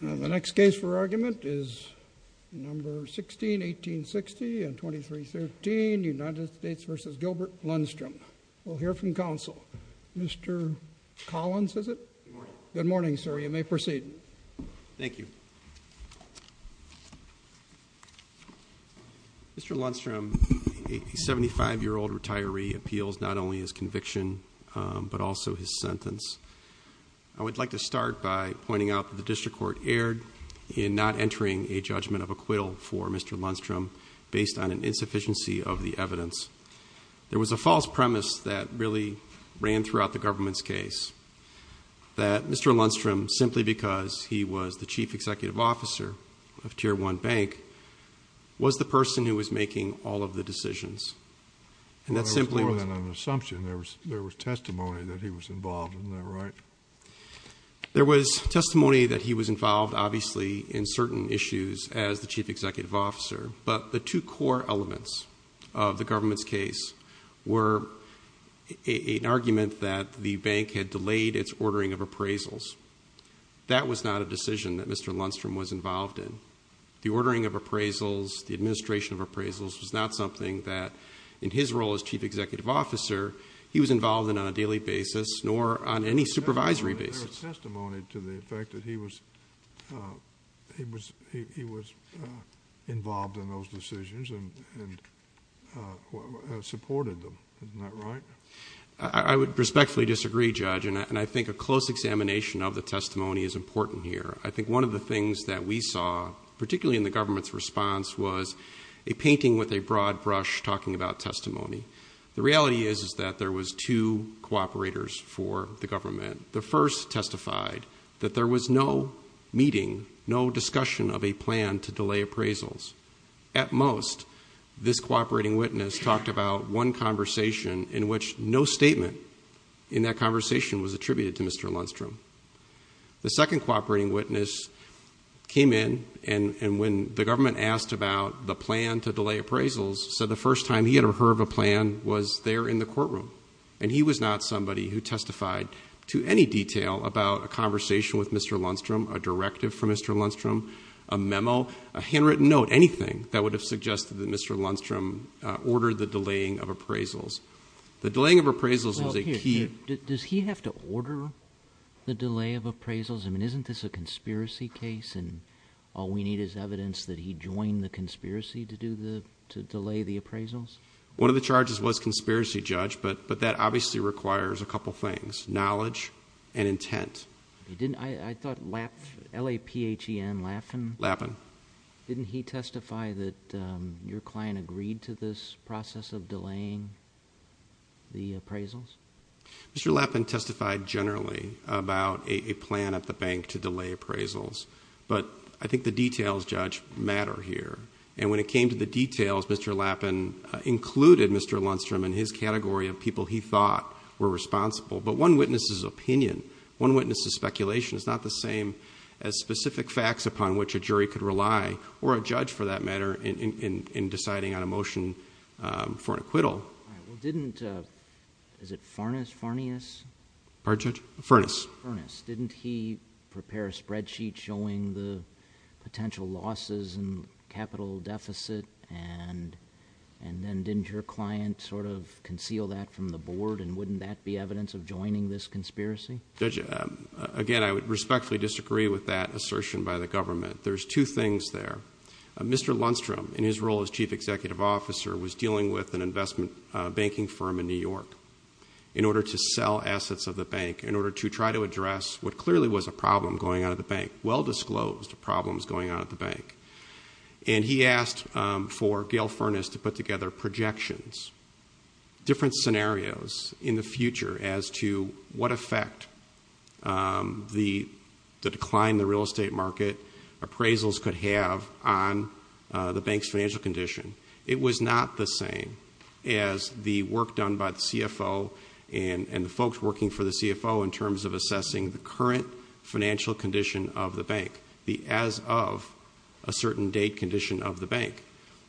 The next case for argument is No. 16, 1860 and 2313, United States v. Gilbert Lundstrom. We'll hear from counsel. Mr. Collins, is it? Good morning, sir. You may proceed. Thank you. Mr. Lundstrom, a 75-year-old retiree, appeals not only his conviction but also his sentence. I would like to start by pointing out that the district court erred in not entering a judgment of acquittal for Mr. Lundstrom based on an insufficiency of the evidence. There was a false premise that really ran throughout the government's case that Mr. Lundstrom, simply because he was the chief executive officer of Tier 1 Bank, was the person who was making all of the decisions. And that simply was... Well, there was more than an assumption. There was testimony that he was involved. Isn't that right? There was testimony that he was involved, obviously, in certain issues as the chief executive officer. But the two core elements of the government's case were an argument that the bank had delayed its ordering of appraisals. That was not a decision that Mr. Lundstrom was involved in. The ordering of appraisals, the administration of appraisals, was not something that, in his role as chief executive officer, he was involved in on a daily basis nor on any supervisory basis. There was testimony to the effect that he was involved in those decisions and supported them. Isn't that right? I would respectfully disagree, Judge, and I think a close examination of the testimony is important here. I think one of the things that we saw, particularly in the government's response, was a painting with a broad brush talking about testimony. The reality is that there was two cooperators for the government. The first testified that there was no meeting, no discussion of a plan to delay appraisals. At most, this cooperating witness talked about one conversation in which no statement in that conversation was attributed to Mr. Lundstrom. The second cooperating witness came in, and when the government asked about the plan to delay appraisals, said the first time he had heard of a plan was there in the courtroom. He was not somebody who testified to any detail about a conversation with Mr. Lundstrom, a directive from Mr. Lundstrom, a memo, a handwritten note, anything that would have suggested that Mr. Lundstrom ordered the delaying of appraisals. The delaying of appraisals was a key— Does he have to order the delay of appraisals? I mean, isn't this a conspiracy case, and all we need is evidence that he joined the conspiracy to delay the appraisals? One of the charges was conspiracy, Judge, but that obviously requires a couple things, knowledge and intent. I thought LAPHEN, L-A-P-H-E-N, LAPHEN? LAPHEN. Didn't he testify that your client agreed to this process of delaying the appraisals? Mr. LAPHEN testified generally about a plan at the bank to delay appraisals, but I think the details, Judge, matter here, and when it came to the details, Mr. LAPHEN included Mr. Lundstrom and his category of people he thought were responsible, but one witness's opinion, one witness's speculation is not the same as specific facts upon which a jury could rely, or a judge, for that matter, in deciding on a motion for an acquittal. All right. Well, didn't, is it Farnes, Farnes? Pardon, Judge? Farnes. Farnes. Didn't he prepare a spreadsheet showing the potential losses and capital deficit, and then didn't your client sort of conceal that from the board, and wouldn't that be evidence of joining this conspiracy? Judge, again, I would respectfully disagree with that assertion by the government. There's two things there. Mr. Lundstrom, in his role as chief executive officer, was dealing with an investment banking firm in New York in order to sell assets of the bank, in order to try to address what clearly was a problem going on at the bank, well-disclosed problems going on at the bank, and he asked for Gail Farnes to put together projections, different scenarios in the future, as to what effect the decline in the real estate market appraisals could have on the bank's financial condition. It was not the same as the work done by the CFO and the folks working for the CFO in terms of assessing the current financial condition of the bank, the as of a certain date condition of the bank.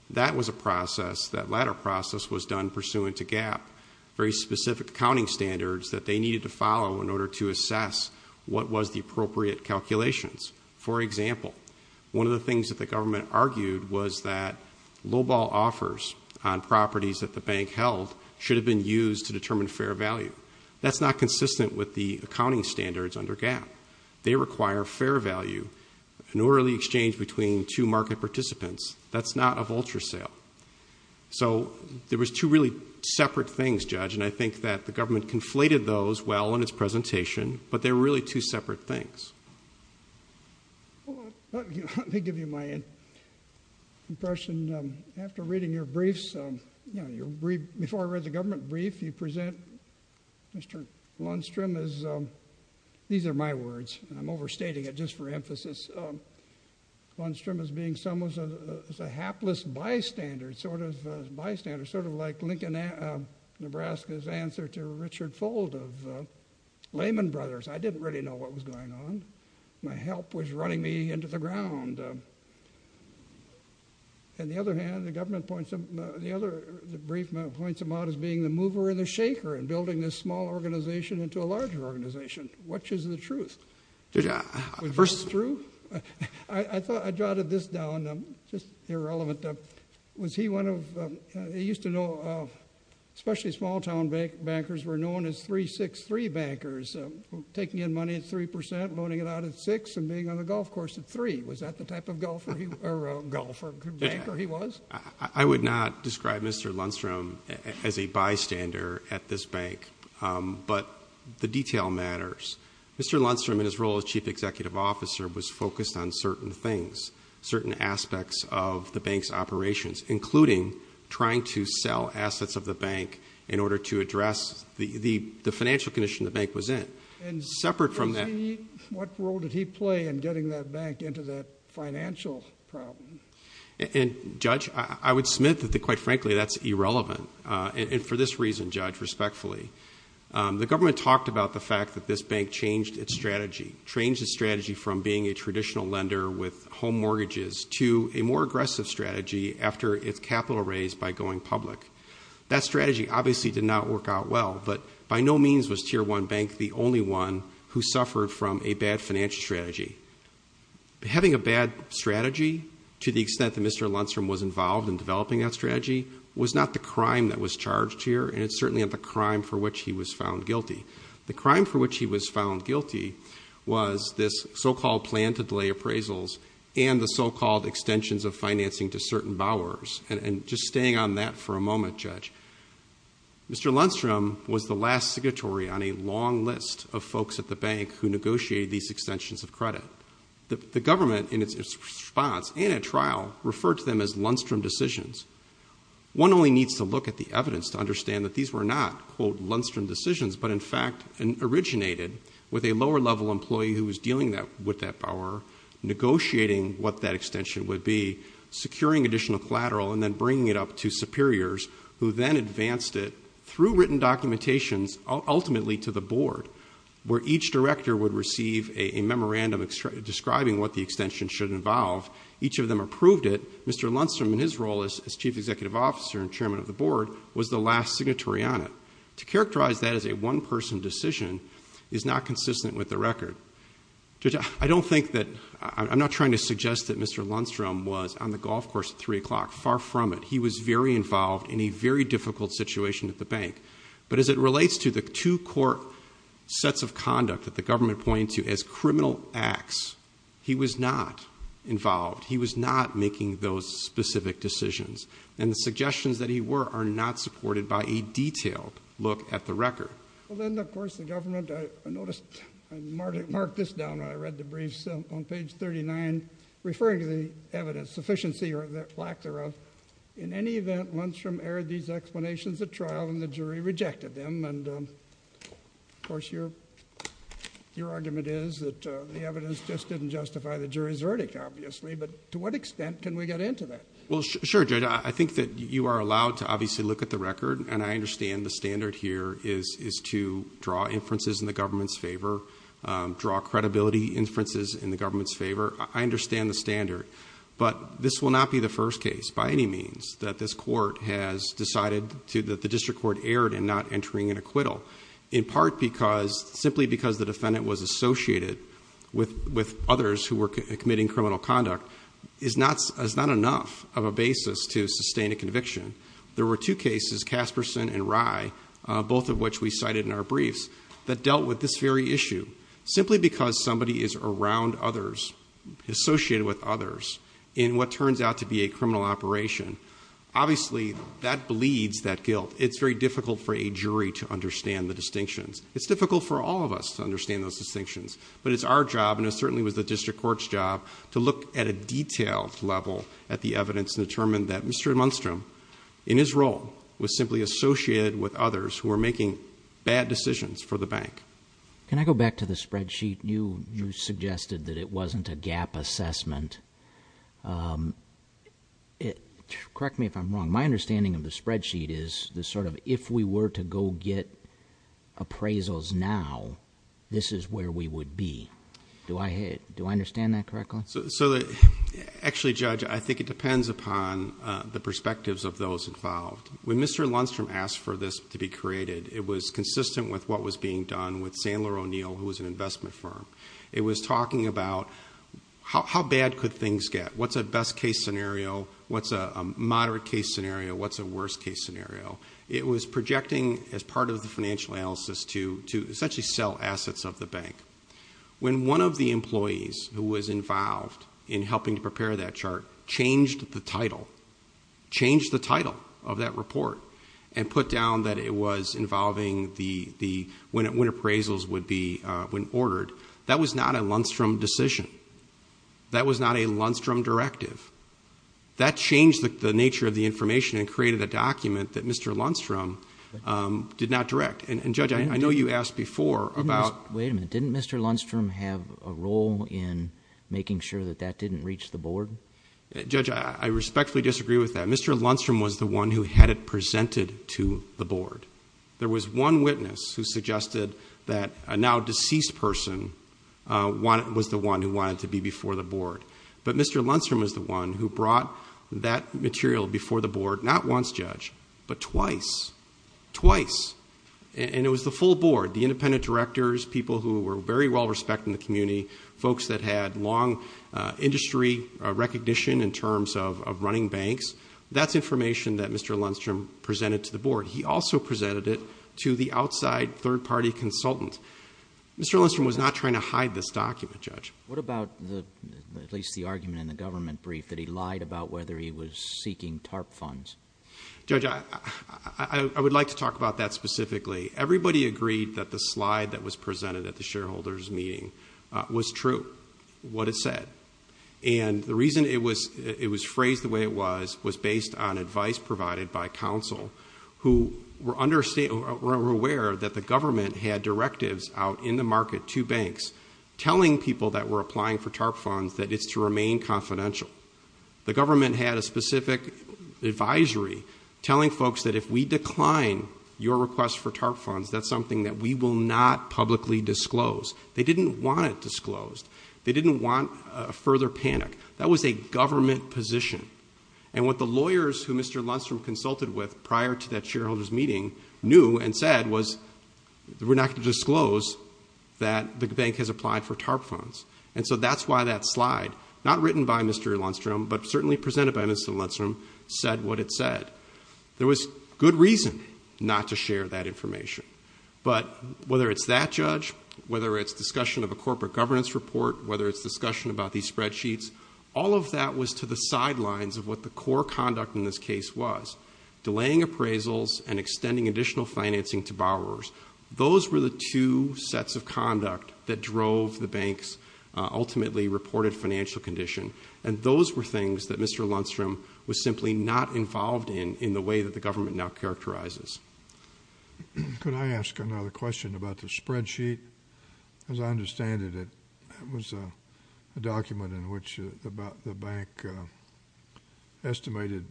That was a process, that latter process was done pursuant to GAAP, very specific accounting standards that they needed to follow in order to assess what was the appropriate calculations. For example, one of the things that the government argued was that lowball offers on properties that the bank held should have been used to determine fair value. That's not consistent with the accounting standards under GAAP. They require fair value, an orderly exchange between two market participants. That's not a vulture sale. So there was two really separate things, Judge, and I think that the government conflated those well in its presentation, but they're really two separate things. Let me give you my impression. After reading your briefs, before I read the government brief, you present Mr. Lundstrom as, these are my words, I'm overstating it just for emphasis, Lundstrom as being someone's hapless bystander, sort of like Lincoln, Nebraska's answer to Richard Fold of Lehman Brothers. I didn't really know what was going on. My help was running me into the ground. On the other hand, the government points him out as being the mover and the shaker in building this small organization into a larger organization. What is the truth? The truth? I thought I jotted this down, just irrelevant. Was he one of, he used to know, especially small-town bankers were known as 363 bankers, taking in money at 3%, loaning it out at 6%, and being on the golf course at 3%. Was that the type of golfer he was? I would not describe Mr. Lundstrom as a bystander at this bank, but the detail matters. Mr. Lundstrom, in his role as Chief Executive Officer, was focused on certain things, certain aspects of the bank's operations, including trying to sell assets of the bank in order to address the financial condition the bank was in. Separate from that. What role did he play in getting that bank into that financial problem? Judge, I would submit that, quite frankly, that's irrelevant, and for this reason, Judge, respectfully. The government talked about the fact that this bank changed its strategy, changed its strategy from being a traditional lender with home mortgages to a more aggressive strategy after its capital raise by going public. That strategy obviously did not work out well, but by no means was Tier 1 Bank the only one who suffered from a bad financial strategy. Having a bad strategy, to the extent that Mr. Lundstrom was involved in developing that strategy, was not the crime that was charged here, and it's certainly not the crime for which he was found guilty. The crime for which he was found guilty was this so-called plan to delay appraisals and the so-called extensions of financing to certain bowers. And just staying on that for a moment, Judge, Mr. Lundstrom was the last signatory on a long list of folks at the bank who negotiated these extensions of credit. The government, in its response and at trial, referred to them as Lundstrom decisions. One only needs to look at the evidence to understand that these were not, quote, Lundstrom decisions, but in fact originated with a lower-level employee who was dealing with that bower, negotiating what that extension would be, securing additional collateral, and then bringing it up to superiors, who then advanced it through written documentations, ultimately to the board, where each director would receive a memorandum describing what the extension should involve. Each of them approved it. Mr. Lundstrom, in his role as chief executive officer and chairman of the board, was the last signatory on it. To characterize that as a one-person decision is not consistent with the record. Judge, I don't think that I'm not trying to suggest that Mr. Lundstrom was on the golf course at 3 o'clock. Far from it. He was very involved in a very difficult situation at the bank. But as it relates to the two court sets of conduct that the government pointed to as criminal acts, he was not involved. He was not making those specific decisions. And the suggestions that he were are not supported by a detailed look at the record. Well, then, of course, the government, I noticed, I marked this down when I read the briefs on page 39, referring to the evidence, sufficiency or lack thereof. In any event, Lundstrom aired these explanations at trial, and the jury rejected them. And, of course, your argument is that the evidence just didn't justify the jury's verdict, obviously. But to what extent can we get into that? Well, sure, Judge. I think that you are allowed to obviously look at the record, and I understand the standard here is to draw inferences in the government's favor, draw credibility inferences in the government's favor. I understand the standard. But this will not be the first case, by any means, that this court has decided that the district court erred in not entering an acquittal, in part because simply because the defendant was associated with others who were committing criminal conduct is not enough of a basis to sustain a conviction. There were two cases, Kasperson and Rye, both of which we cited in our briefs, that dealt with this very issue. Simply because somebody is around others, associated with others, in what turns out to be a criminal operation, obviously that bleeds that guilt. It's very difficult for a jury to understand the distinctions. It's difficult for all of us to understand those distinctions. But it's our job, and it certainly was the district court's job, to look at a detailed level at the evidence and determine that Mr. Lundstrom, in his role, was simply associated with others who were making bad decisions for the bank. Can I go back to the spreadsheet? You suggested that it wasn't a gap assessment. Correct me if I'm wrong. My understanding of the spreadsheet is the sort of, if we were to go get appraisals now, this is where we would be. Do I understand that correctly? Actually, Judge, I think it depends upon the perspectives of those involved. When Mr. Lundstrom asked for this to be created, it was consistent with what was being done with Sandler O'Neill, who was an investment firm. It was talking about how bad could things get? What's a best-case scenario? What's a moderate-case scenario? What's a worst-case scenario? It was projecting, as part of the financial analysis, to essentially sell assets of the bank. When one of the employees who was involved in helping to prepare that chart changed the title, changed the title of that report, and put down that it was involving when appraisals would be ordered, that was not a Lundstrom decision. That was not a Lundstrom directive. That changed the nature of the information and created a document that Mr. Lundstrom did not direct. And, Judge, I know you asked before about... Wait a minute. Didn't Mr. Lundstrom have a role in making sure that that didn't reach the board? Judge, I respectfully disagree with that. Mr. Lundstrom was the one who had it presented to the board. There was one witness who suggested that a now-deceased person was the one who wanted it to be before the board. But Mr. Lundstrom was the one who brought that material before the board, not once, Judge, but twice. Twice. And it was the full board, the independent directors, people who were very well-respected in the community, folks that had long industry recognition in terms of running banks. That's information that Mr. Lundstrom presented to the board. He also presented it to the outside third-party consultant. Mr. Lundstrom was not trying to hide this document, Judge. What about at least the argument in the government brief that he lied about whether he was seeking TARP funds? Judge, I would like to talk about that specifically. Everybody agreed that the slide that was presented at the shareholders' meeting was true, what it said. And the reason it was phrased the way it was was based on advice provided by counsel who were aware that the government had directives out in the market to banks telling people that were applying for TARP funds that it's to remain confidential. The government had a specific advisory telling folks that if we decline your request for TARP funds, that's something that we will not publicly disclose. They didn't want it disclosed. They didn't want further panic. That was a government position. And what the lawyers who Mr. Lundstrom consulted with prior to that shareholders' meeting knew and said was we're not going to disclose that the bank has applied for TARP funds. And so that's why that slide, not written by Mr. Lundstrom, but certainly presented by Mr. Lundstrom, said what it said. There was good reason not to share that information. But whether it's that judge, whether it's discussion of a corporate governance report, whether it's discussion about these spreadsheets, all of that was to the sidelines of what the core conduct in this case was, delaying appraisals and extending additional financing to borrowers. Those were the two sets of conduct that drove the bank's ultimately reported financial condition. And those were things that Mr. Lundstrom was simply not involved in, in the way that the government now characterizes. Could I ask another question about the spreadsheet? As I understand it, it was a document in which the bank estimated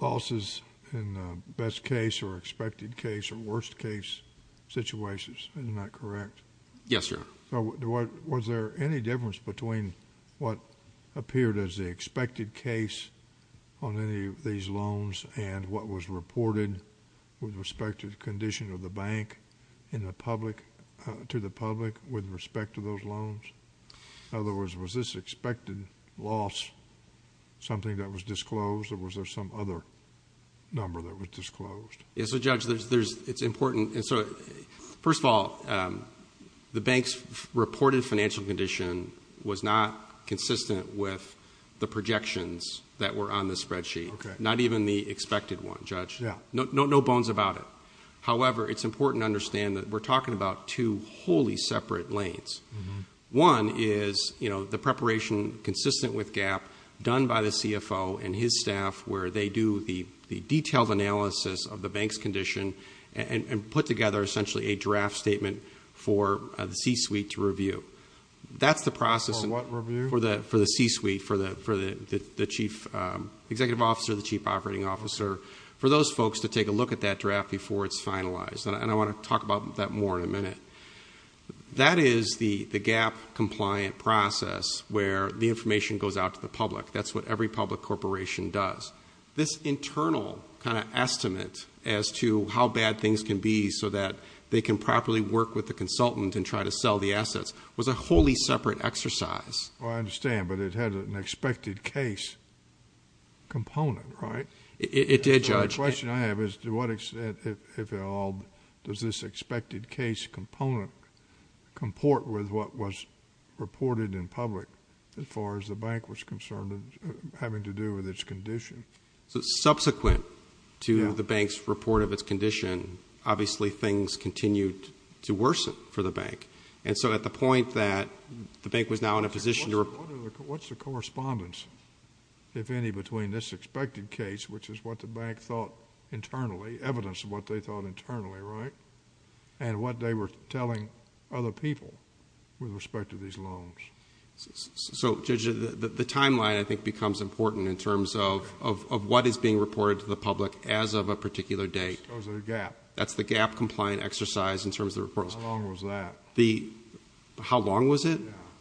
losses in best case or expected case or worst case situations. Isn't that correct? Yes, sir. Was there any difference between what appeared as the expected case on any of these loans and what was reported with respect to the condition of the bank to the public with respect to those loans? Or was there some other number that was disclosed? Yes, Judge. It's important. First of all, the bank's reported financial condition was not consistent with the projections that were on the spreadsheet. Okay. Not even the expected one, Judge. No bones about it. However, it's important to understand that we're talking about two wholly separate lanes. One is the preparation consistent with GAAP done by the CFO and his staff, where they do the detailed analysis of the bank's condition and put together essentially a draft statement for the C-suite to review. That's the process for the C-suite, for the Chief Executive Officer, the Chief Operating Officer, for those folks to take a look at that draft before it's finalized. That is the GAAP-compliant process where the information goes out to the public. That's what every public corporation does. This internal kind of estimate as to how bad things can be so that they can properly work with the consultant and try to sell the assets was a wholly separate exercise. I understand, but it had an expected case component, right? It did, Judge. The question I have is to what extent, if at all, does this expected case component comport with what was reported in public as far as the bank was concerned having to do with its condition? Subsequent to the bank's report of its condition, obviously, things continued to worsen for the bank. At the point that the bank was now in a position to report... What's the correspondence, if any, between this expected case, which is what the bank thought internally, evidence of what they thought internally, right, and what they were telling other people with respect to these loans? Judge, the timeline, I think, becomes important in terms of what is being reported to the public as of a particular date. That's the GAAP-compliant exercise in terms of the reports. How long was that?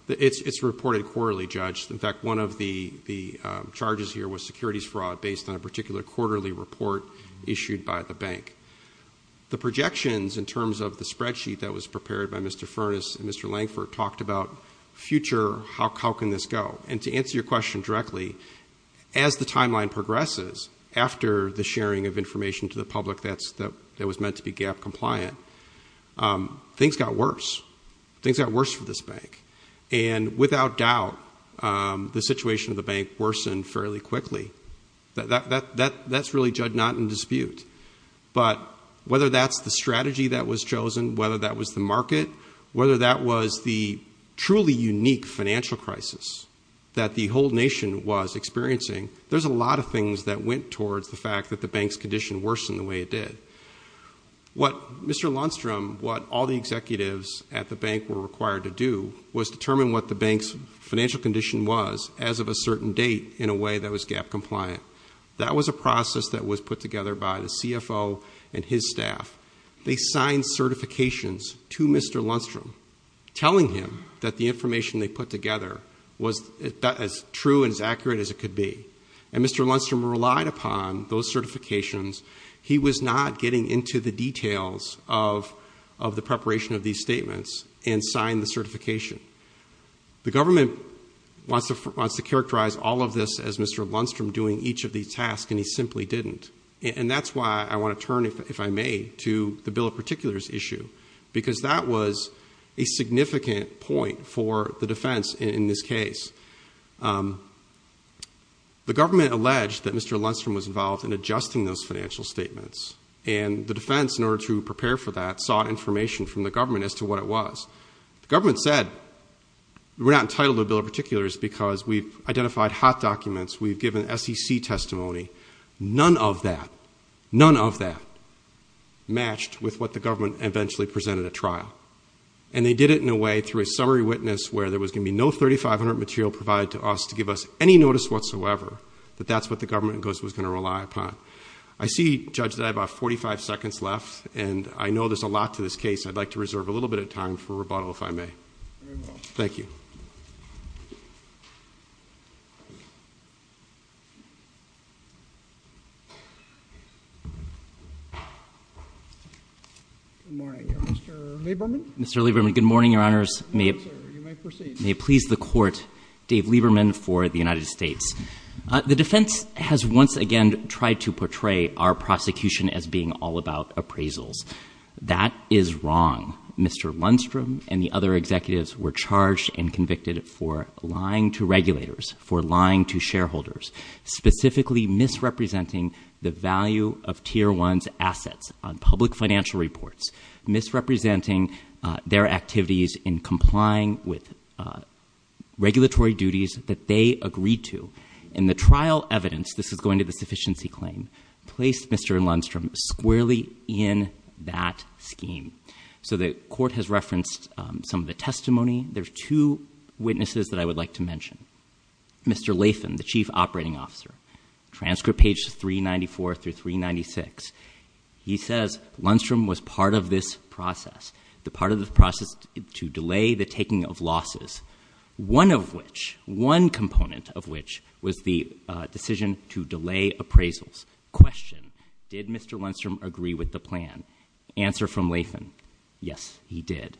It's reported quarterly, Judge. In fact, one of the charges here was securities fraud based on a particular quarterly report issued by the bank. The projections in terms of the spreadsheet that was prepared by Mr. Furness and Mr. Langford talked about future, how can this go? And to answer your question directly, as the timeline progresses, after the sharing of information to the public that was meant to be GAAP-compliant, things got worse. Things got worse for this bank. And without doubt, the situation of the bank worsened fairly quickly. That's really, Judge, not in dispute. But whether that's the strategy that was chosen, whether that was the market, whether that was the truly unique financial crisis that the whole nation was experiencing, there's a lot of things that went towards the fact that the bank's condition worsened the way it did. What Mr. Lundstrom, what all the executives at the bank were required to do was determine what the bank's financial condition was as of a certain date in a way that was GAAP-compliant. That was a process that was put together by the CFO and his staff. They signed certifications to Mr. Lundstrom telling him that the information they put together was as true and as accurate as it could be. And Mr. Lundstrom relied upon those certifications. He was not getting into the details of the preparation of these statements and signed the certification. The government wants to characterize all of this as Mr. Lundstrom doing each of these tasks, and he simply didn't. And that's why I want to turn, if I may, to the bill in particular's issue, because that was a significant point for the defense in this case. The government alleged that Mr. Lundstrom was involved in adjusting those financial statements, and the defense, in order to prepare for that, sought information from the government as to what it was. The government said, we're not entitled to a bill in particular because we've identified hot documents, we've given SEC testimony. None of that, none of that matched with what the government eventually presented at trial. And they did it in a way, through a summary witness, where there was going to be no 3,500 material provided to us to give us any notice whatsoever that that's what the government was going to rely upon. I see, Judge, that I have about 45 seconds left, and I know there's a lot to this case. I'd like to reserve a little bit of time for rebuttal, if I may. Very well. Thank you. Good morning. Mr. Lieberman? Mr. Lieberman, good morning, Your Honors. You may proceed. May it please the Court, Dave Lieberman for the United States. The defense has once again tried to portray our prosecution as being all about appraisals. That is wrong. Mr. Lundstrom and the other executives were charged and convicted for lying to regulators, for lying to shareholders, specifically misrepresenting the value of Tier 1's assets on public financial reports, misrepresenting their activities in complying with regulatory duties that they agreed to. And the trial evidence, this is going to the sufficiency claim, placed Mr. Lundstrom squarely in that scheme. So the Court has referenced some of the testimony. There are two witnesses that I would like to mention. Mr. Latham, the Chief Operating Officer, transcript page 394 through 396. He says Lundstrom was part of this process, the part of the process to delay the taking of losses, one of which, one component of which, was the decision to delay appraisals. Question, did Mr. Lundstrom agree with the plan? Answer from Latham, yes, he did.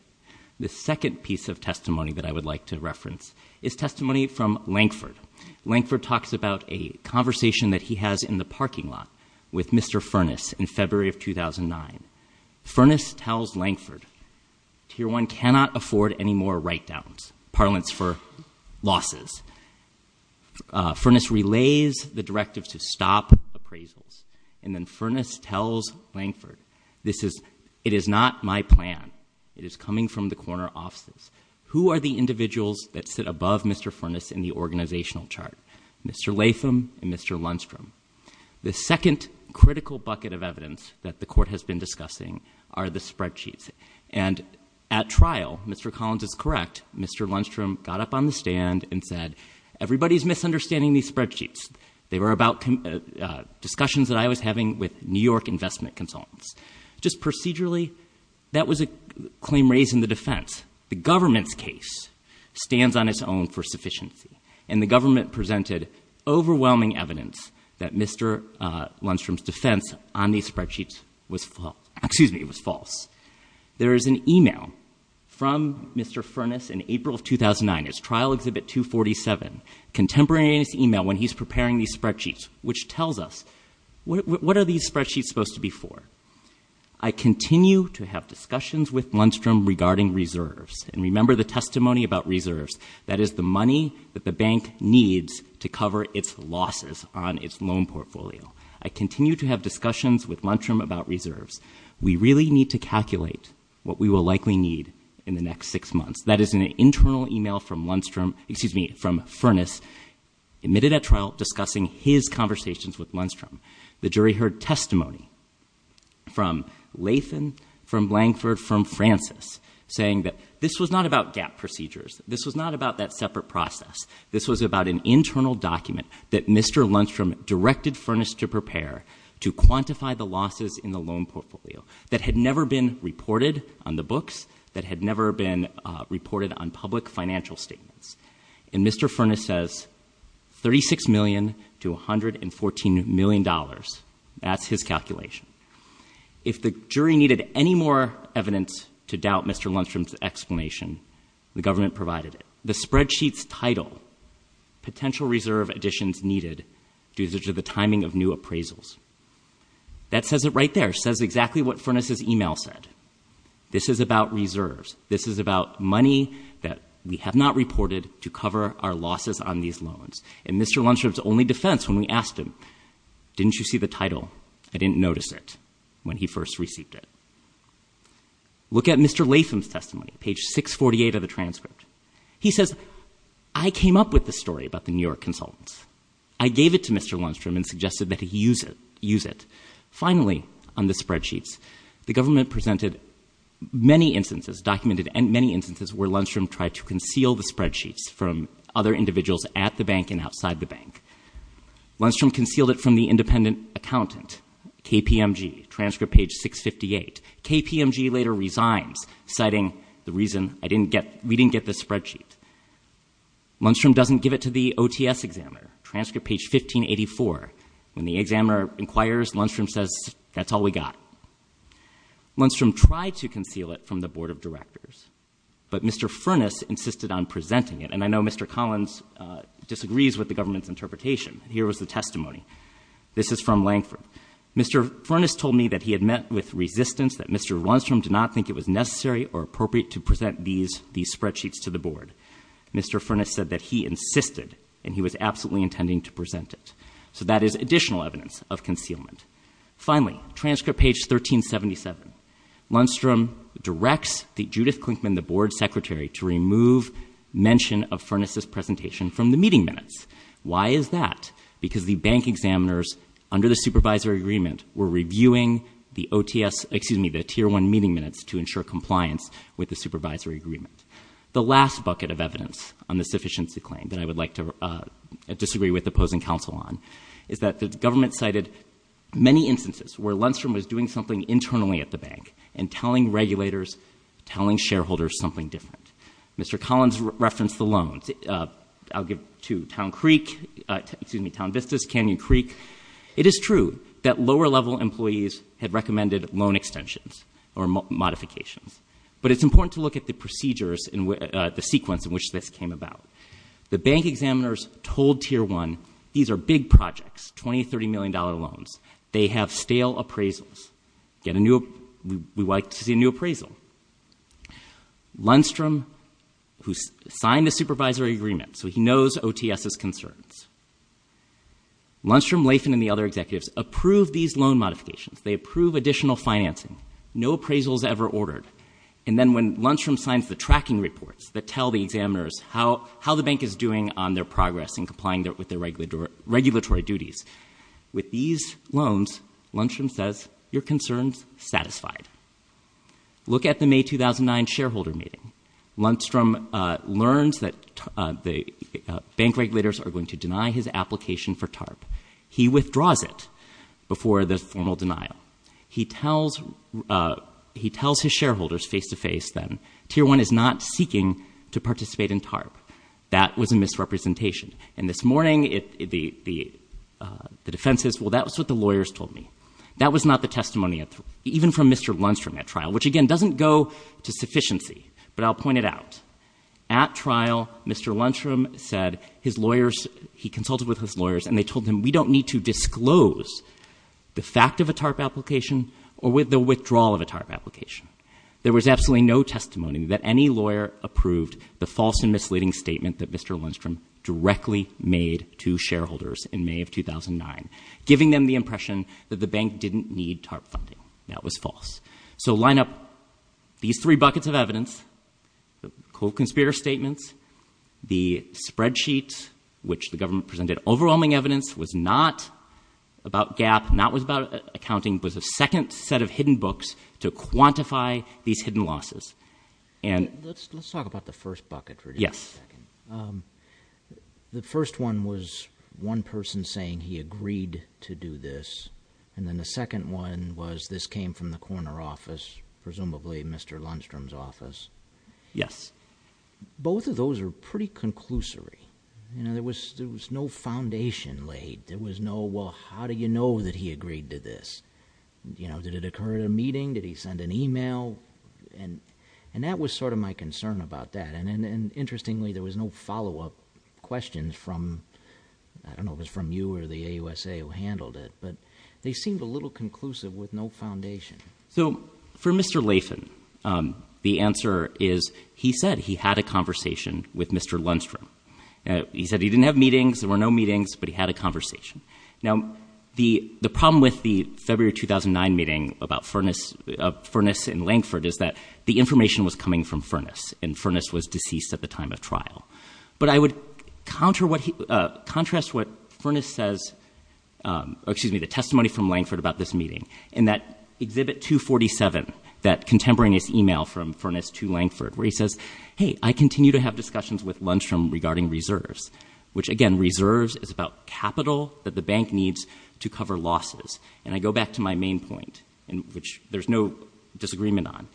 The second piece of testimony that I would like to reference is testimony from Lankford. Lankford talks about a conversation that he has in the parking lot with Mr. Furness in February of 2009. Furness tells Lankford, Tier 1 cannot afford any more write-downs, parlance for losses. Furness relays the directive to stop appraisals. And then Furness tells Lankford, it is not my plan. It is coming from the corner offices. Who are the individuals that sit above Mr. Furness in the organizational chart? Mr. Latham and Mr. Lundstrom. The second critical bucket of evidence that the Court has been discussing are the spreadsheets. And at trial, Mr. Collins is correct, Mr. Lundstrom got up on the stand and said, everybody is misunderstanding these spreadsheets. They were about discussions that I was having with New York investment consultants. Just procedurally, that was a claim raised in the defense. The government's case stands on its own for sufficiency. And the government presented overwhelming evidence that Mr. Lundstrom's defense on these spreadsheets was false. There is an e-mail from Mr. Furness in April of 2009. It's Trial Exhibit 247. Contemporaneous e-mail when he's preparing these spreadsheets, which tells us, what are these spreadsheets supposed to be for? I continue to have discussions with Lundstrom regarding reserves. And remember the testimony about reserves. That is the money that the bank needs to cover its losses on its loan portfolio. I continue to have discussions with Lundstrom about reserves. We really need to calculate what we will likely need in the next six months. That is an internal e-mail from Lundstrom, excuse me, from Furness, admitted at trial, discussing his conversations with Lundstrom. The jury heard testimony from Lathan, from Langford, from Francis, saying that this was not about gap procedures. This was not about that separate process. This was about an internal document that Mr. Lundstrom directed Furness to prepare to quantify the losses in the loan portfolio that had never been reported on the books, that had never been reported on public financial statements. And Mr. Furness says $36 million to $114 million. That's his calculation. If the jury needed any more evidence to doubt Mr. Lundstrom's explanation, the government provided it. The spreadsheet's title, Potential Reserve Additions Needed Due to the Timing of New Appraisals. That says it right there. It says exactly what Furness's e-mail said. This is about reserves. This is about money that we have not reported to cover our losses on these loans. In Mr. Lundstrom's only defense when we asked him, didn't you see the title, I didn't notice it when he first received it. Look at Mr. Lathan's testimony, page 648 of the transcript. He says, I came up with the story about the New York consultants. I gave it to Mr. Lundstrom and suggested that he use it. Finally, on the spreadsheets, the government presented many instances, documented many instances, where Lundstrom tried to conceal the spreadsheets from other individuals at the bank and outside the bank. Lundstrom concealed it from the independent accountant, KPMG, transcript page 658. KPMG later resigns, citing the reason we didn't get the spreadsheet. Lundstrom doesn't give it to the OTS examiner, transcript page 1584. When the examiner inquires, Lundstrom says, that's all we got. Lundstrom tried to conceal it from the board of directors, but Mr. Furness insisted on presenting it. And I know Mr. Collins disagrees with the government's interpretation. Here was the testimony. This is from Langford. Mr. Furness told me that he had met with resistance, that Mr. Lundstrom did not think it was necessary or appropriate to present these spreadsheets to the board. Mr. Furness said that he insisted, and he was absolutely intending to present it. So that is additional evidence of concealment. Finally, transcript page 1377. Lundstrom directs Judith Klinkman, the board secretary, to remove mention of Furness's presentation from the meeting minutes. Why is that? Because the bank examiners under the supervisory agreement were reviewing the OTS, excuse me, the Tier 1 meeting minutes to ensure compliance with the supervisory agreement. The last bucket of evidence on this sufficiency claim that I would like to disagree with opposing counsel on is that the government cited many instances where Lundstrom was doing something internally at the bank and telling regulators, telling shareholders something different. Mr. Collins referenced the loans. I'll give to Town Creek, excuse me, Town Vistas, Canyon Creek. It is true that lower-level employees had recommended loan extensions or modifications, but it's important to look at the procedures and the sequence in which this came about. The bank examiners told Tier 1, these are big projects, $20 million, $30 million loans. They have stale appraisals. We would like to see a new appraisal. Lundstrom, who signed the supervisory agreement, so he knows OTS's concerns, Lundstrom, Lathan, and the other executives approve these loan modifications. They approve additional financing. No appraisal is ever ordered. And then when Lundstrom signs the tracking reports that tell the examiners how the bank is doing on their progress and complying with their regulatory duties, with these loans, Lundstrom says, your concern is satisfied. Look at the May 2009 shareholder meeting. Lundstrom learns that the bank regulators are going to deny his application for TARP. He withdraws it before the formal denial. He tells his shareholders face-to-face then, Tier 1 is not seeking to participate in TARP. That was a misrepresentation. And this morning, the defense says, well, that's what the lawyers told me. That was not the testimony even from Mr. Lundstrom at trial, which, again, doesn't go to sufficiency. But I'll point it out. At trial, Mr. Lundstrom said his lawyers, he consulted with his lawyers, and they told him we don't need to disclose the fact of a TARP application or the withdrawal of a TARP application. There was absolutely no testimony that any lawyer approved the false and misleading statement that Mr. Lundstrom directly made to shareholders in May of 2009, giving them the impression that the bank didn't need TARP funding. That was false. So line up these three buckets of evidence, the conspirator statements, the spreadsheet, which the government presented overwhelming evidence, was not about GAAP, not was about accounting, but was a second set of hidden books to quantify these hidden losses. And let's talk about the first bucket for just a second. Yes. The first one was one person saying he agreed to do this, and then the second one was this came from the corner office, presumably Mr. Lundstrom's office. Yes. Both of those are pretty conclusory. There was no foundation laid. There was no, well, how do you know that he agreed to this? Did it occur at a meeting? Did he send an email? And that was sort of my concern about that. And interestingly, there was no follow-up questions from, I don't know if it was from you or the AUSA who handled it, but they seemed a little conclusive with no foundation. So for Mr. Lathan, the answer is he said he had a conversation with Mr. Lundstrom. He said he didn't have meetings, there were no meetings, but he had a conversation. Now, the problem with the February 2009 meeting about Furness and Langford is that the information was coming from Furness, and Furness was deceased at the time of trial. But I would contrast what Furness says, excuse me, the testimony from Langford about this meeting, in that Exhibit 247, that contemporaneous email from Furness to Langford where he says, hey, I continue to have discussions with Lundstrom regarding reserves, which, again, reserves is about capital that the bank needs to cover losses. And I go back to my main point, which there's no disagreement on.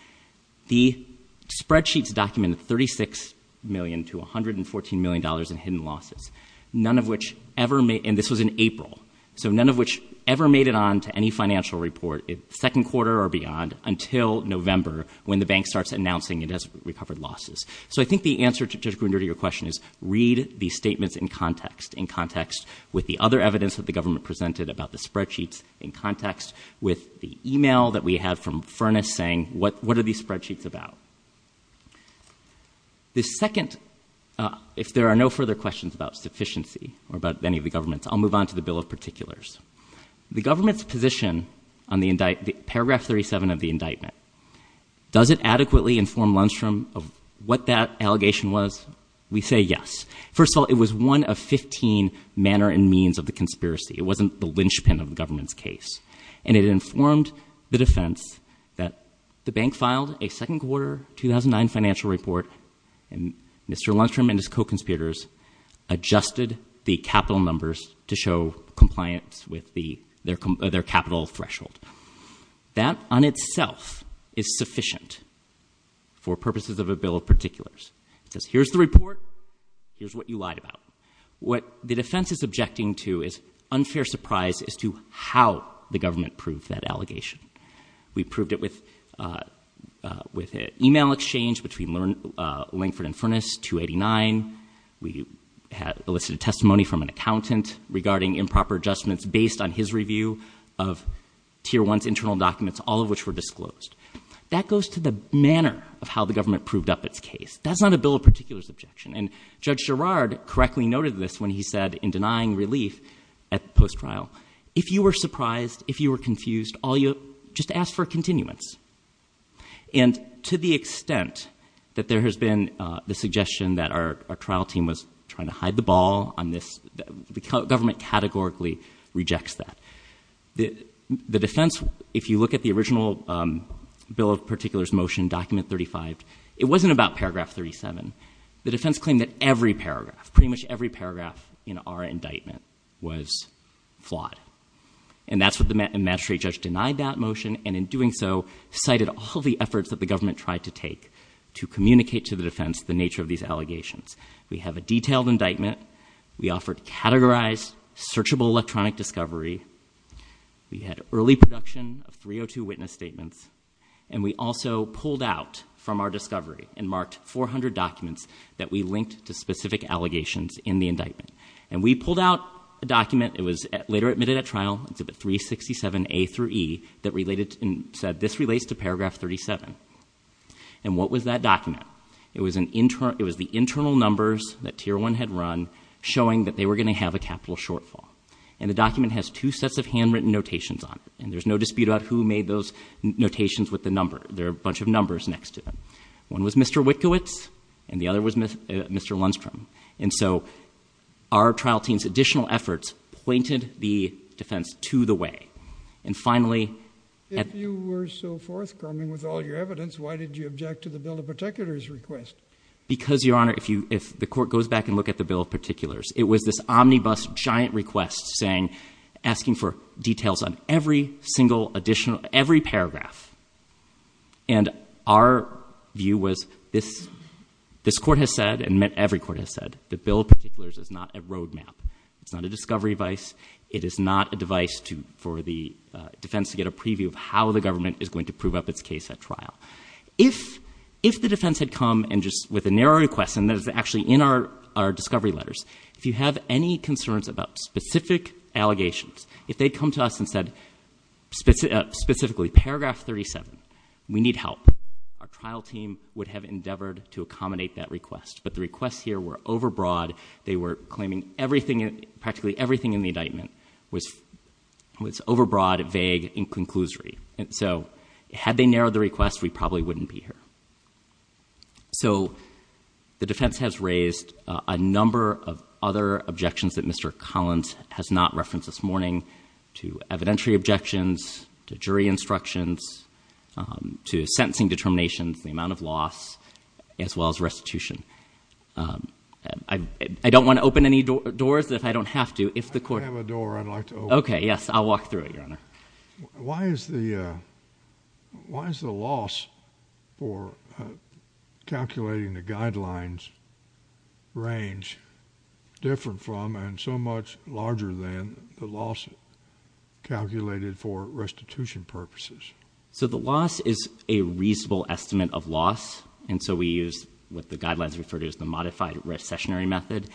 The spreadsheets documented $36 million to $114 million in hidden losses, none of which ever made, and this was in April, so none of which ever made it on to any financial report, second quarter or beyond, until November when the bank starts announcing it has recovered losses. So I think the answer to your question is read the statements in context, in context with the other evidence that the government presented about the spreadsheets, in context with the email that we have from Furness saying what are these spreadsheets about. The second, if there are no further questions about sufficiency or about any of the governments, I'll move on to the Bill of Particulars. The government's position on the indictment, Paragraph 37 of the indictment, does it adequately inform Lundstrom of what that allegation was? We say yes. First of all, it was one of 15 manner and means of the conspiracy. It wasn't the linchpin of the government's case, and it informed the defense that the bank filed a second quarter 2009 financial report, and Mr. Lundstrom and his co-conspirators adjusted the capital numbers to show compliance with their capital threshold. That on itself is sufficient for purposes of a Bill of Particulars. It says here's the report, here's what you lied about. What the defense is objecting to is unfair surprise as to how the government proved that allegation. We proved it with an email exchange between Langford and Furness, 289. We elicited testimony from an accountant regarding improper adjustments based on his review of Tier 1's internal documents, all of which were disclosed. That goes to the manner of how the government proved up its case. That's not a Bill of Particulars objection, and Judge Gerrard correctly noted this when he said in denying relief at post-trial, if you were surprised, if you were confused, just ask for continuance. And to the extent that there has been the suggestion that our trial team was trying to hide the ball on this, the government categorically rejects that. The defense, if you look at the original Bill of Particulars motion, Document 35, it wasn't about Paragraph 37. The defense claimed that every paragraph, pretty much every paragraph in our indictment was flawed. And that's what the magistrate judge denied that motion, and in doing so, cited all the efforts that the government tried to take to communicate to the defense the nature of these allegations. We have a detailed indictment. We offered categorized, searchable electronic discovery. We had early production of 302 witness statements. And we also pulled out from our discovery and marked 400 documents that we linked to specific allegations in the indictment. And we pulled out a document. It was later admitted at trial, Exhibit 367A through E, that said this relates to Paragraph 37. And what was that document? It was the internal numbers that Tier 1 had run, showing that they were going to have a capital shortfall. And the document has two sets of handwritten notations on it. And there's no dispute about who made those notations with the number. There are a bunch of numbers next to them. One was Mr. Witkiewicz, and the other was Mr. Lundstrom. And so our trial team's additional efforts pointed the defense to the way. And finally, at the- If you were so forthcoming with all your evidence, why did you object to the Bill of Particulars request? Because, Your Honor, if the court goes back and looks at the Bill of Particulars, it was this omnibus giant request asking for details on every single additional, every paragraph. And our view was this court has said, and every court has said, the Bill of Particulars is not a roadmap. It's not a discovery device. It is not a device for the defense to get a preview of how the government is going to prove up its case at trial. If the defense had come and just with a narrow request, and that is actually in our discovery letters, if you have any concerns about specific allegations, if they'd come to us and said specifically paragraph 37, we need help, our trial team would have endeavored to accommodate that request. But the requests here were overbroad. They were claiming everything, practically everything in the indictment was overbroad, vague, and conclusory. And so had they narrowed the request, we probably wouldn't be here. So the defense has raised a number of other objections that Mr. Collins has not referenced this morning, to evidentiary objections, to jury instructions, to sentencing determinations, the amount of loss, as well as restitution. I don't want to open any doors if I don't have to. If the court— I have a door I'd like to open. Okay, yes, I'll walk through it, Your Honor. Why is the loss for calculating the guidelines range different from and so much larger than the loss calculated for restitution purposes? So the loss is a reasonable estimate of loss. And so we use what the guidelines refer to as the modified recessionary method.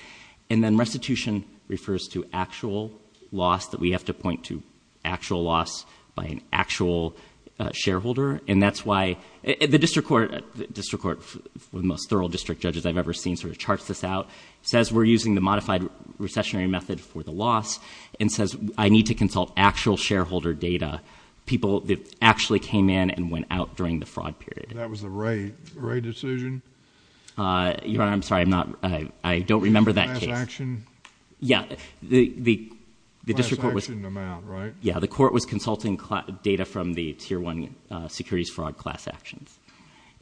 And then restitution refers to actual loss, that we have to point to actual loss by an actual shareholder. And that's why the district court, the most thorough district judges I've ever seen sort of charts this out, says we're using the modified recessionary method for the loss, and says I need to consult actual shareholder data. People that actually came in and went out during the fraud period. That was the Wray decision? Your Honor, I'm sorry. I don't remember that case. Class action? Yeah, the district court was— Class action amount, right? Yeah, the court was consulting data from the Tier 1 securities fraud class actions.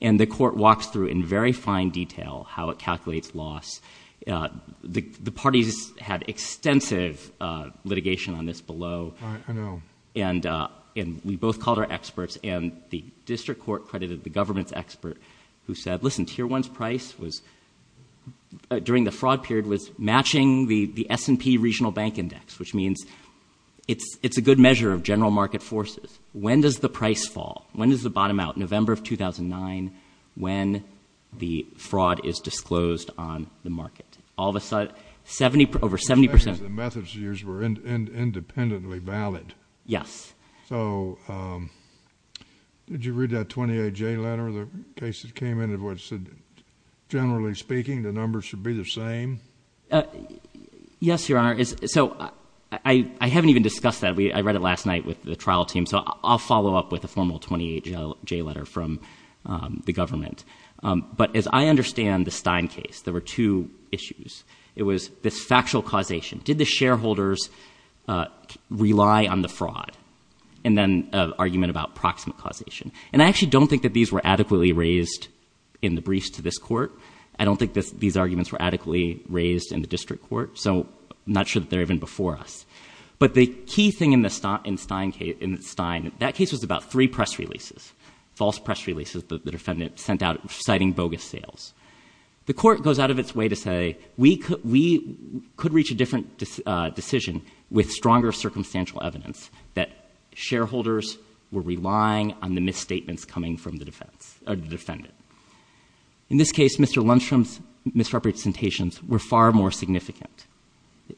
And the court walks through in very fine detail how it calculates loss. The parties had extensive litigation on this below. I know. And we both called our experts, and the district court credited the government's expert who said, listen, Tier 1's price during the fraud period was matching the S&P Regional Bank Index, which means it's a good measure of general market forces. When does the price fall? When does the bottom out? November of 2009, when the fraud is disclosed on the market. All of a sudden, over 70%— The methods used were independently valid. Yes. So did you read that 28J letter? The case that came in, generally speaking, the numbers should be the same? Yes, Your Honor. So I haven't even discussed that. I read it last night with the trial team, so I'll follow up with a formal 28J letter from the government. But as I understand the Stein case, there were two issues. It was this factual causation. Did the shareholders rely on the fraud? And then an argument about proximate causation. And I actually don't think that these were adequately raised in the briefs to this court. I don't think these arguments were adequately raised in the district court, so I'm not sure that they're even before us. But the key thing in the Stein case, that case was about three press releases, false press releases that the defendant sent out citing bogus sales. The court goes out of its way to say we could reach a different decision with stronger circumstantial evidence that shareholders were relying on the misstatements coming from the defendant. In this case, Mr. Lundstrom's misrepresentations were far more significant.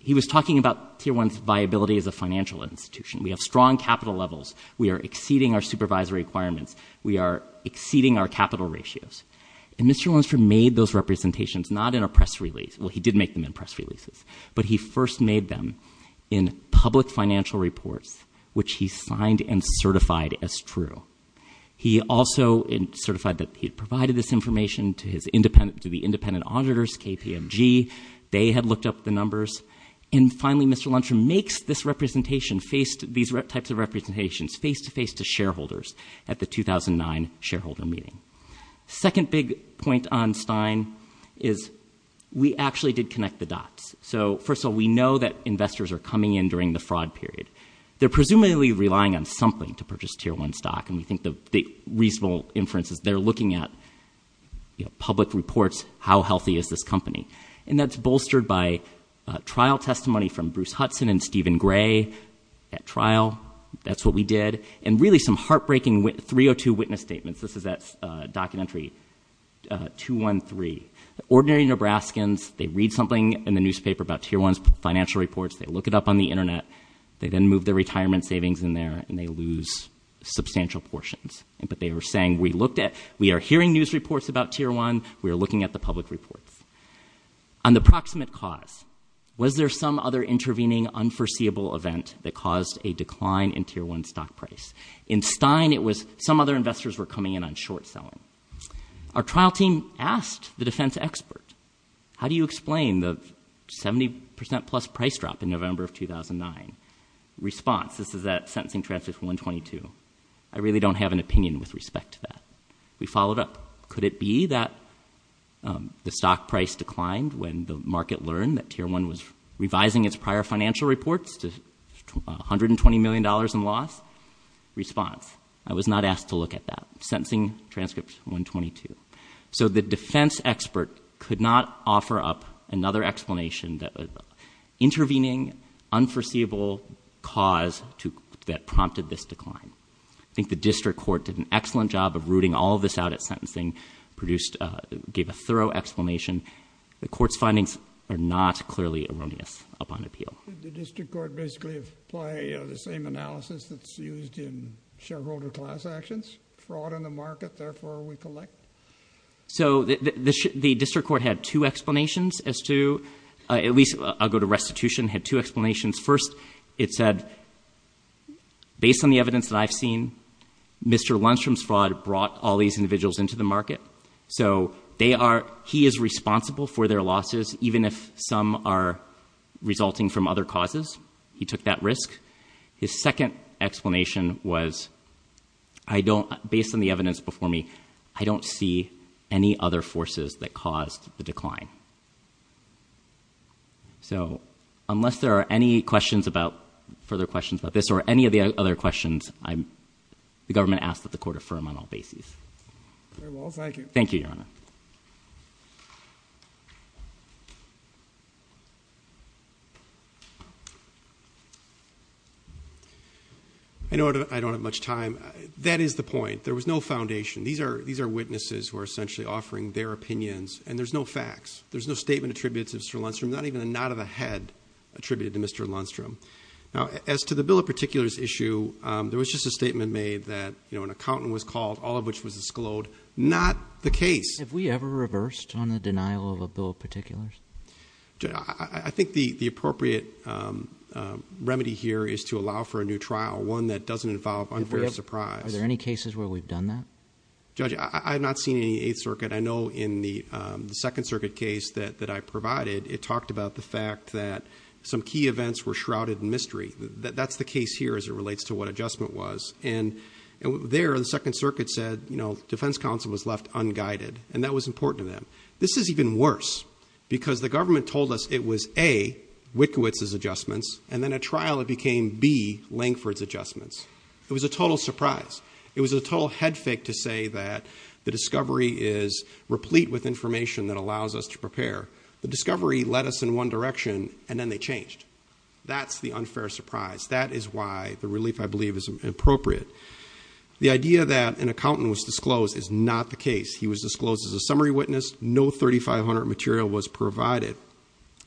He was talking about Tier 1's viability as a financial institution. We have strong capital levels. We are exceeding our supervisory requirements. We are exceeding our capital ratios. And Mr. Lundstrom made those representations not in a press release. Well, he did make them in press releases. But he first made them in public financial reports, which he signed and certified as true. He also certified that he had provided this information to the independent auditors, KPMG. They had looked up the numbers. And finally, Mr. Lundstrom makes this representation, these types of representations, face-to-face to shareholders at the 2009 shareholder meeting. Second big point on Stein is we actually did connect the dots. So, first of all, we know that investors are coming in during the fraud period. They're presumably relying on something to purchase Tier 1 stock. And we think the reasonable inference is they're looking at public reports, how healthy is this company. And that's bolstered by trial testimony from Bruce Hudson and Stephen Gray at trial. That's what we did. And really some heartbreaking 302 witness statements. This is at documentary 213. Ordinary Nebraskans, they read something in the newspaper about Tier 1's financial reports. They look it up on the Internet. They then move their retirement savings in there, and they lose substantial portions. But they were saying, we looked at, we are hearing news reports about Tier 1. We are looking at the public reports. On the proximate cause, was there some other intervening unforeseeable event that caused a decline in Tier 1 stock price? In Stein, it was some other investors were coming in on short selling. Our trial team asked the defense expert, how do you explain the 70%-plus price drop in November of 2009? Response, this is at sentencing transcript 122. I really don't have an opinion with respect to that. We followed up. Could it be that the stock price declined when the market learned that Tier 1 was revising its prior financial reports to $120 million in loss? Response, I was not asked to look at that. Sentencing transcript 122. So the defense expert could not offer up another explanation that intervening unforeseeable cause that prompted this decline. I think the district court did an excellent job of rooting all of this out at sentencing, gave a thorough explanation. The court's findings are not clearly erroneous upon appeal. Did the district court basically apply the same analysis that's used in shareholder class actions? Fraud in the market, therefore we collect? So the district court had two explanations as to, at least I'll go to restitution, had two explanations. First, it said, based on the evidence that I've seen, Mr. Lundstrom's fraud brought all these individuals into the market. So he is responsible for their losses, even if some are resulting from other causes. He took that risk. His second explanation was, based on the evidence before me, I don't see any other forces that caused the decline. So unless there are any further questions about this or any of the other questions, the government asks that the court affirm on all bases. Very well. Thank you. Thank you, Your Honor. I know I don't have much time. That is the point. There was no foundation. These are witnesses who are essentially offering their opinions, and there's no facts. There's no statement attributed to Mr. Lundstrom, not even a nod of a head attributed to Mr. Lundstrom. Now, as to the bill of particulars issue, there was just a statement made that an accountant was called, all of which was disclosed. Not the case. Have we ever reversed on the denial of a bill of particulars? I think the appropriate remedy here is to allow for a new trial, one that doesn't involve unfair surprise. Are there any cases where we've done that? Judge, I have not seen any in the Eighth Circuit. I know in the Second Circuit case that I provided, it talked about the fact that some key events were shrouded in mystery. That's the case here as it relates to what adjustment was. And there, the Second Circuit said, you know, defense counsel was left unguided, and that was important to them. This is even worse because the government told us it was, A, Witkiewicz's adjustments, and then at trial it became, B, Lankford's adjustments. It was a total surprise. It was a total head fake to say that the discovery is replete with information that allows us to prepare. The discovery led us in one direction, and then they changed. That's the unfair surprise. That is why the relief, I believe, is appropriate. The idea that an accountant was disclosed is not the case. He was disclosed as a summary witness. No 3500 material was provided.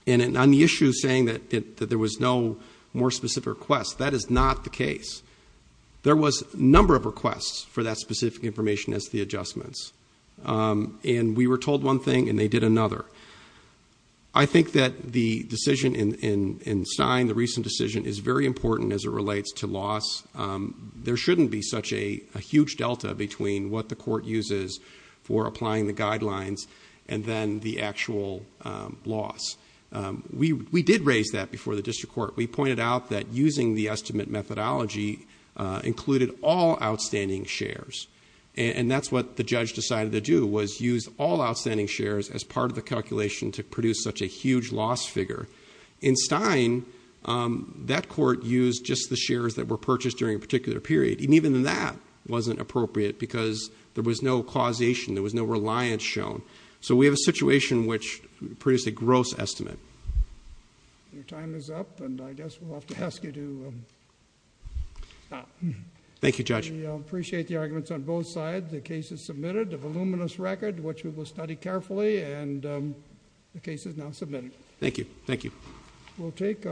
And on the issue of saying that there was no more specific request, that is not the case. There was a number of requests for that specific information as the adjustments. And we were told one thing, and they did another. I think that the decision in Stein, the recent decision, is very important as it relates to loss. There shouldn't be such a huge delta between what the court uses for applying the guidelines and then the actual loss. We did raise that before the district court. We pointed out that using the estimate methodology included all outstanding shares, and that's what the judge decided to do, was use all outstanding shares as part of the calculation to produce such a huge loss figure. In Stein, that court used just the shares that were purchased during a particular period, and even that wasn't appropriate because there was no causation. There was no reliance shown. So we have a situation which produced a gross estimate. Your time is up, and I guess we'll have to ask you to stop. Thank you, Judge. We appreciate the arguments on both sides. The case is submitted. The voluminous record, which we will study carefully, and the case is now submitted. Thank you.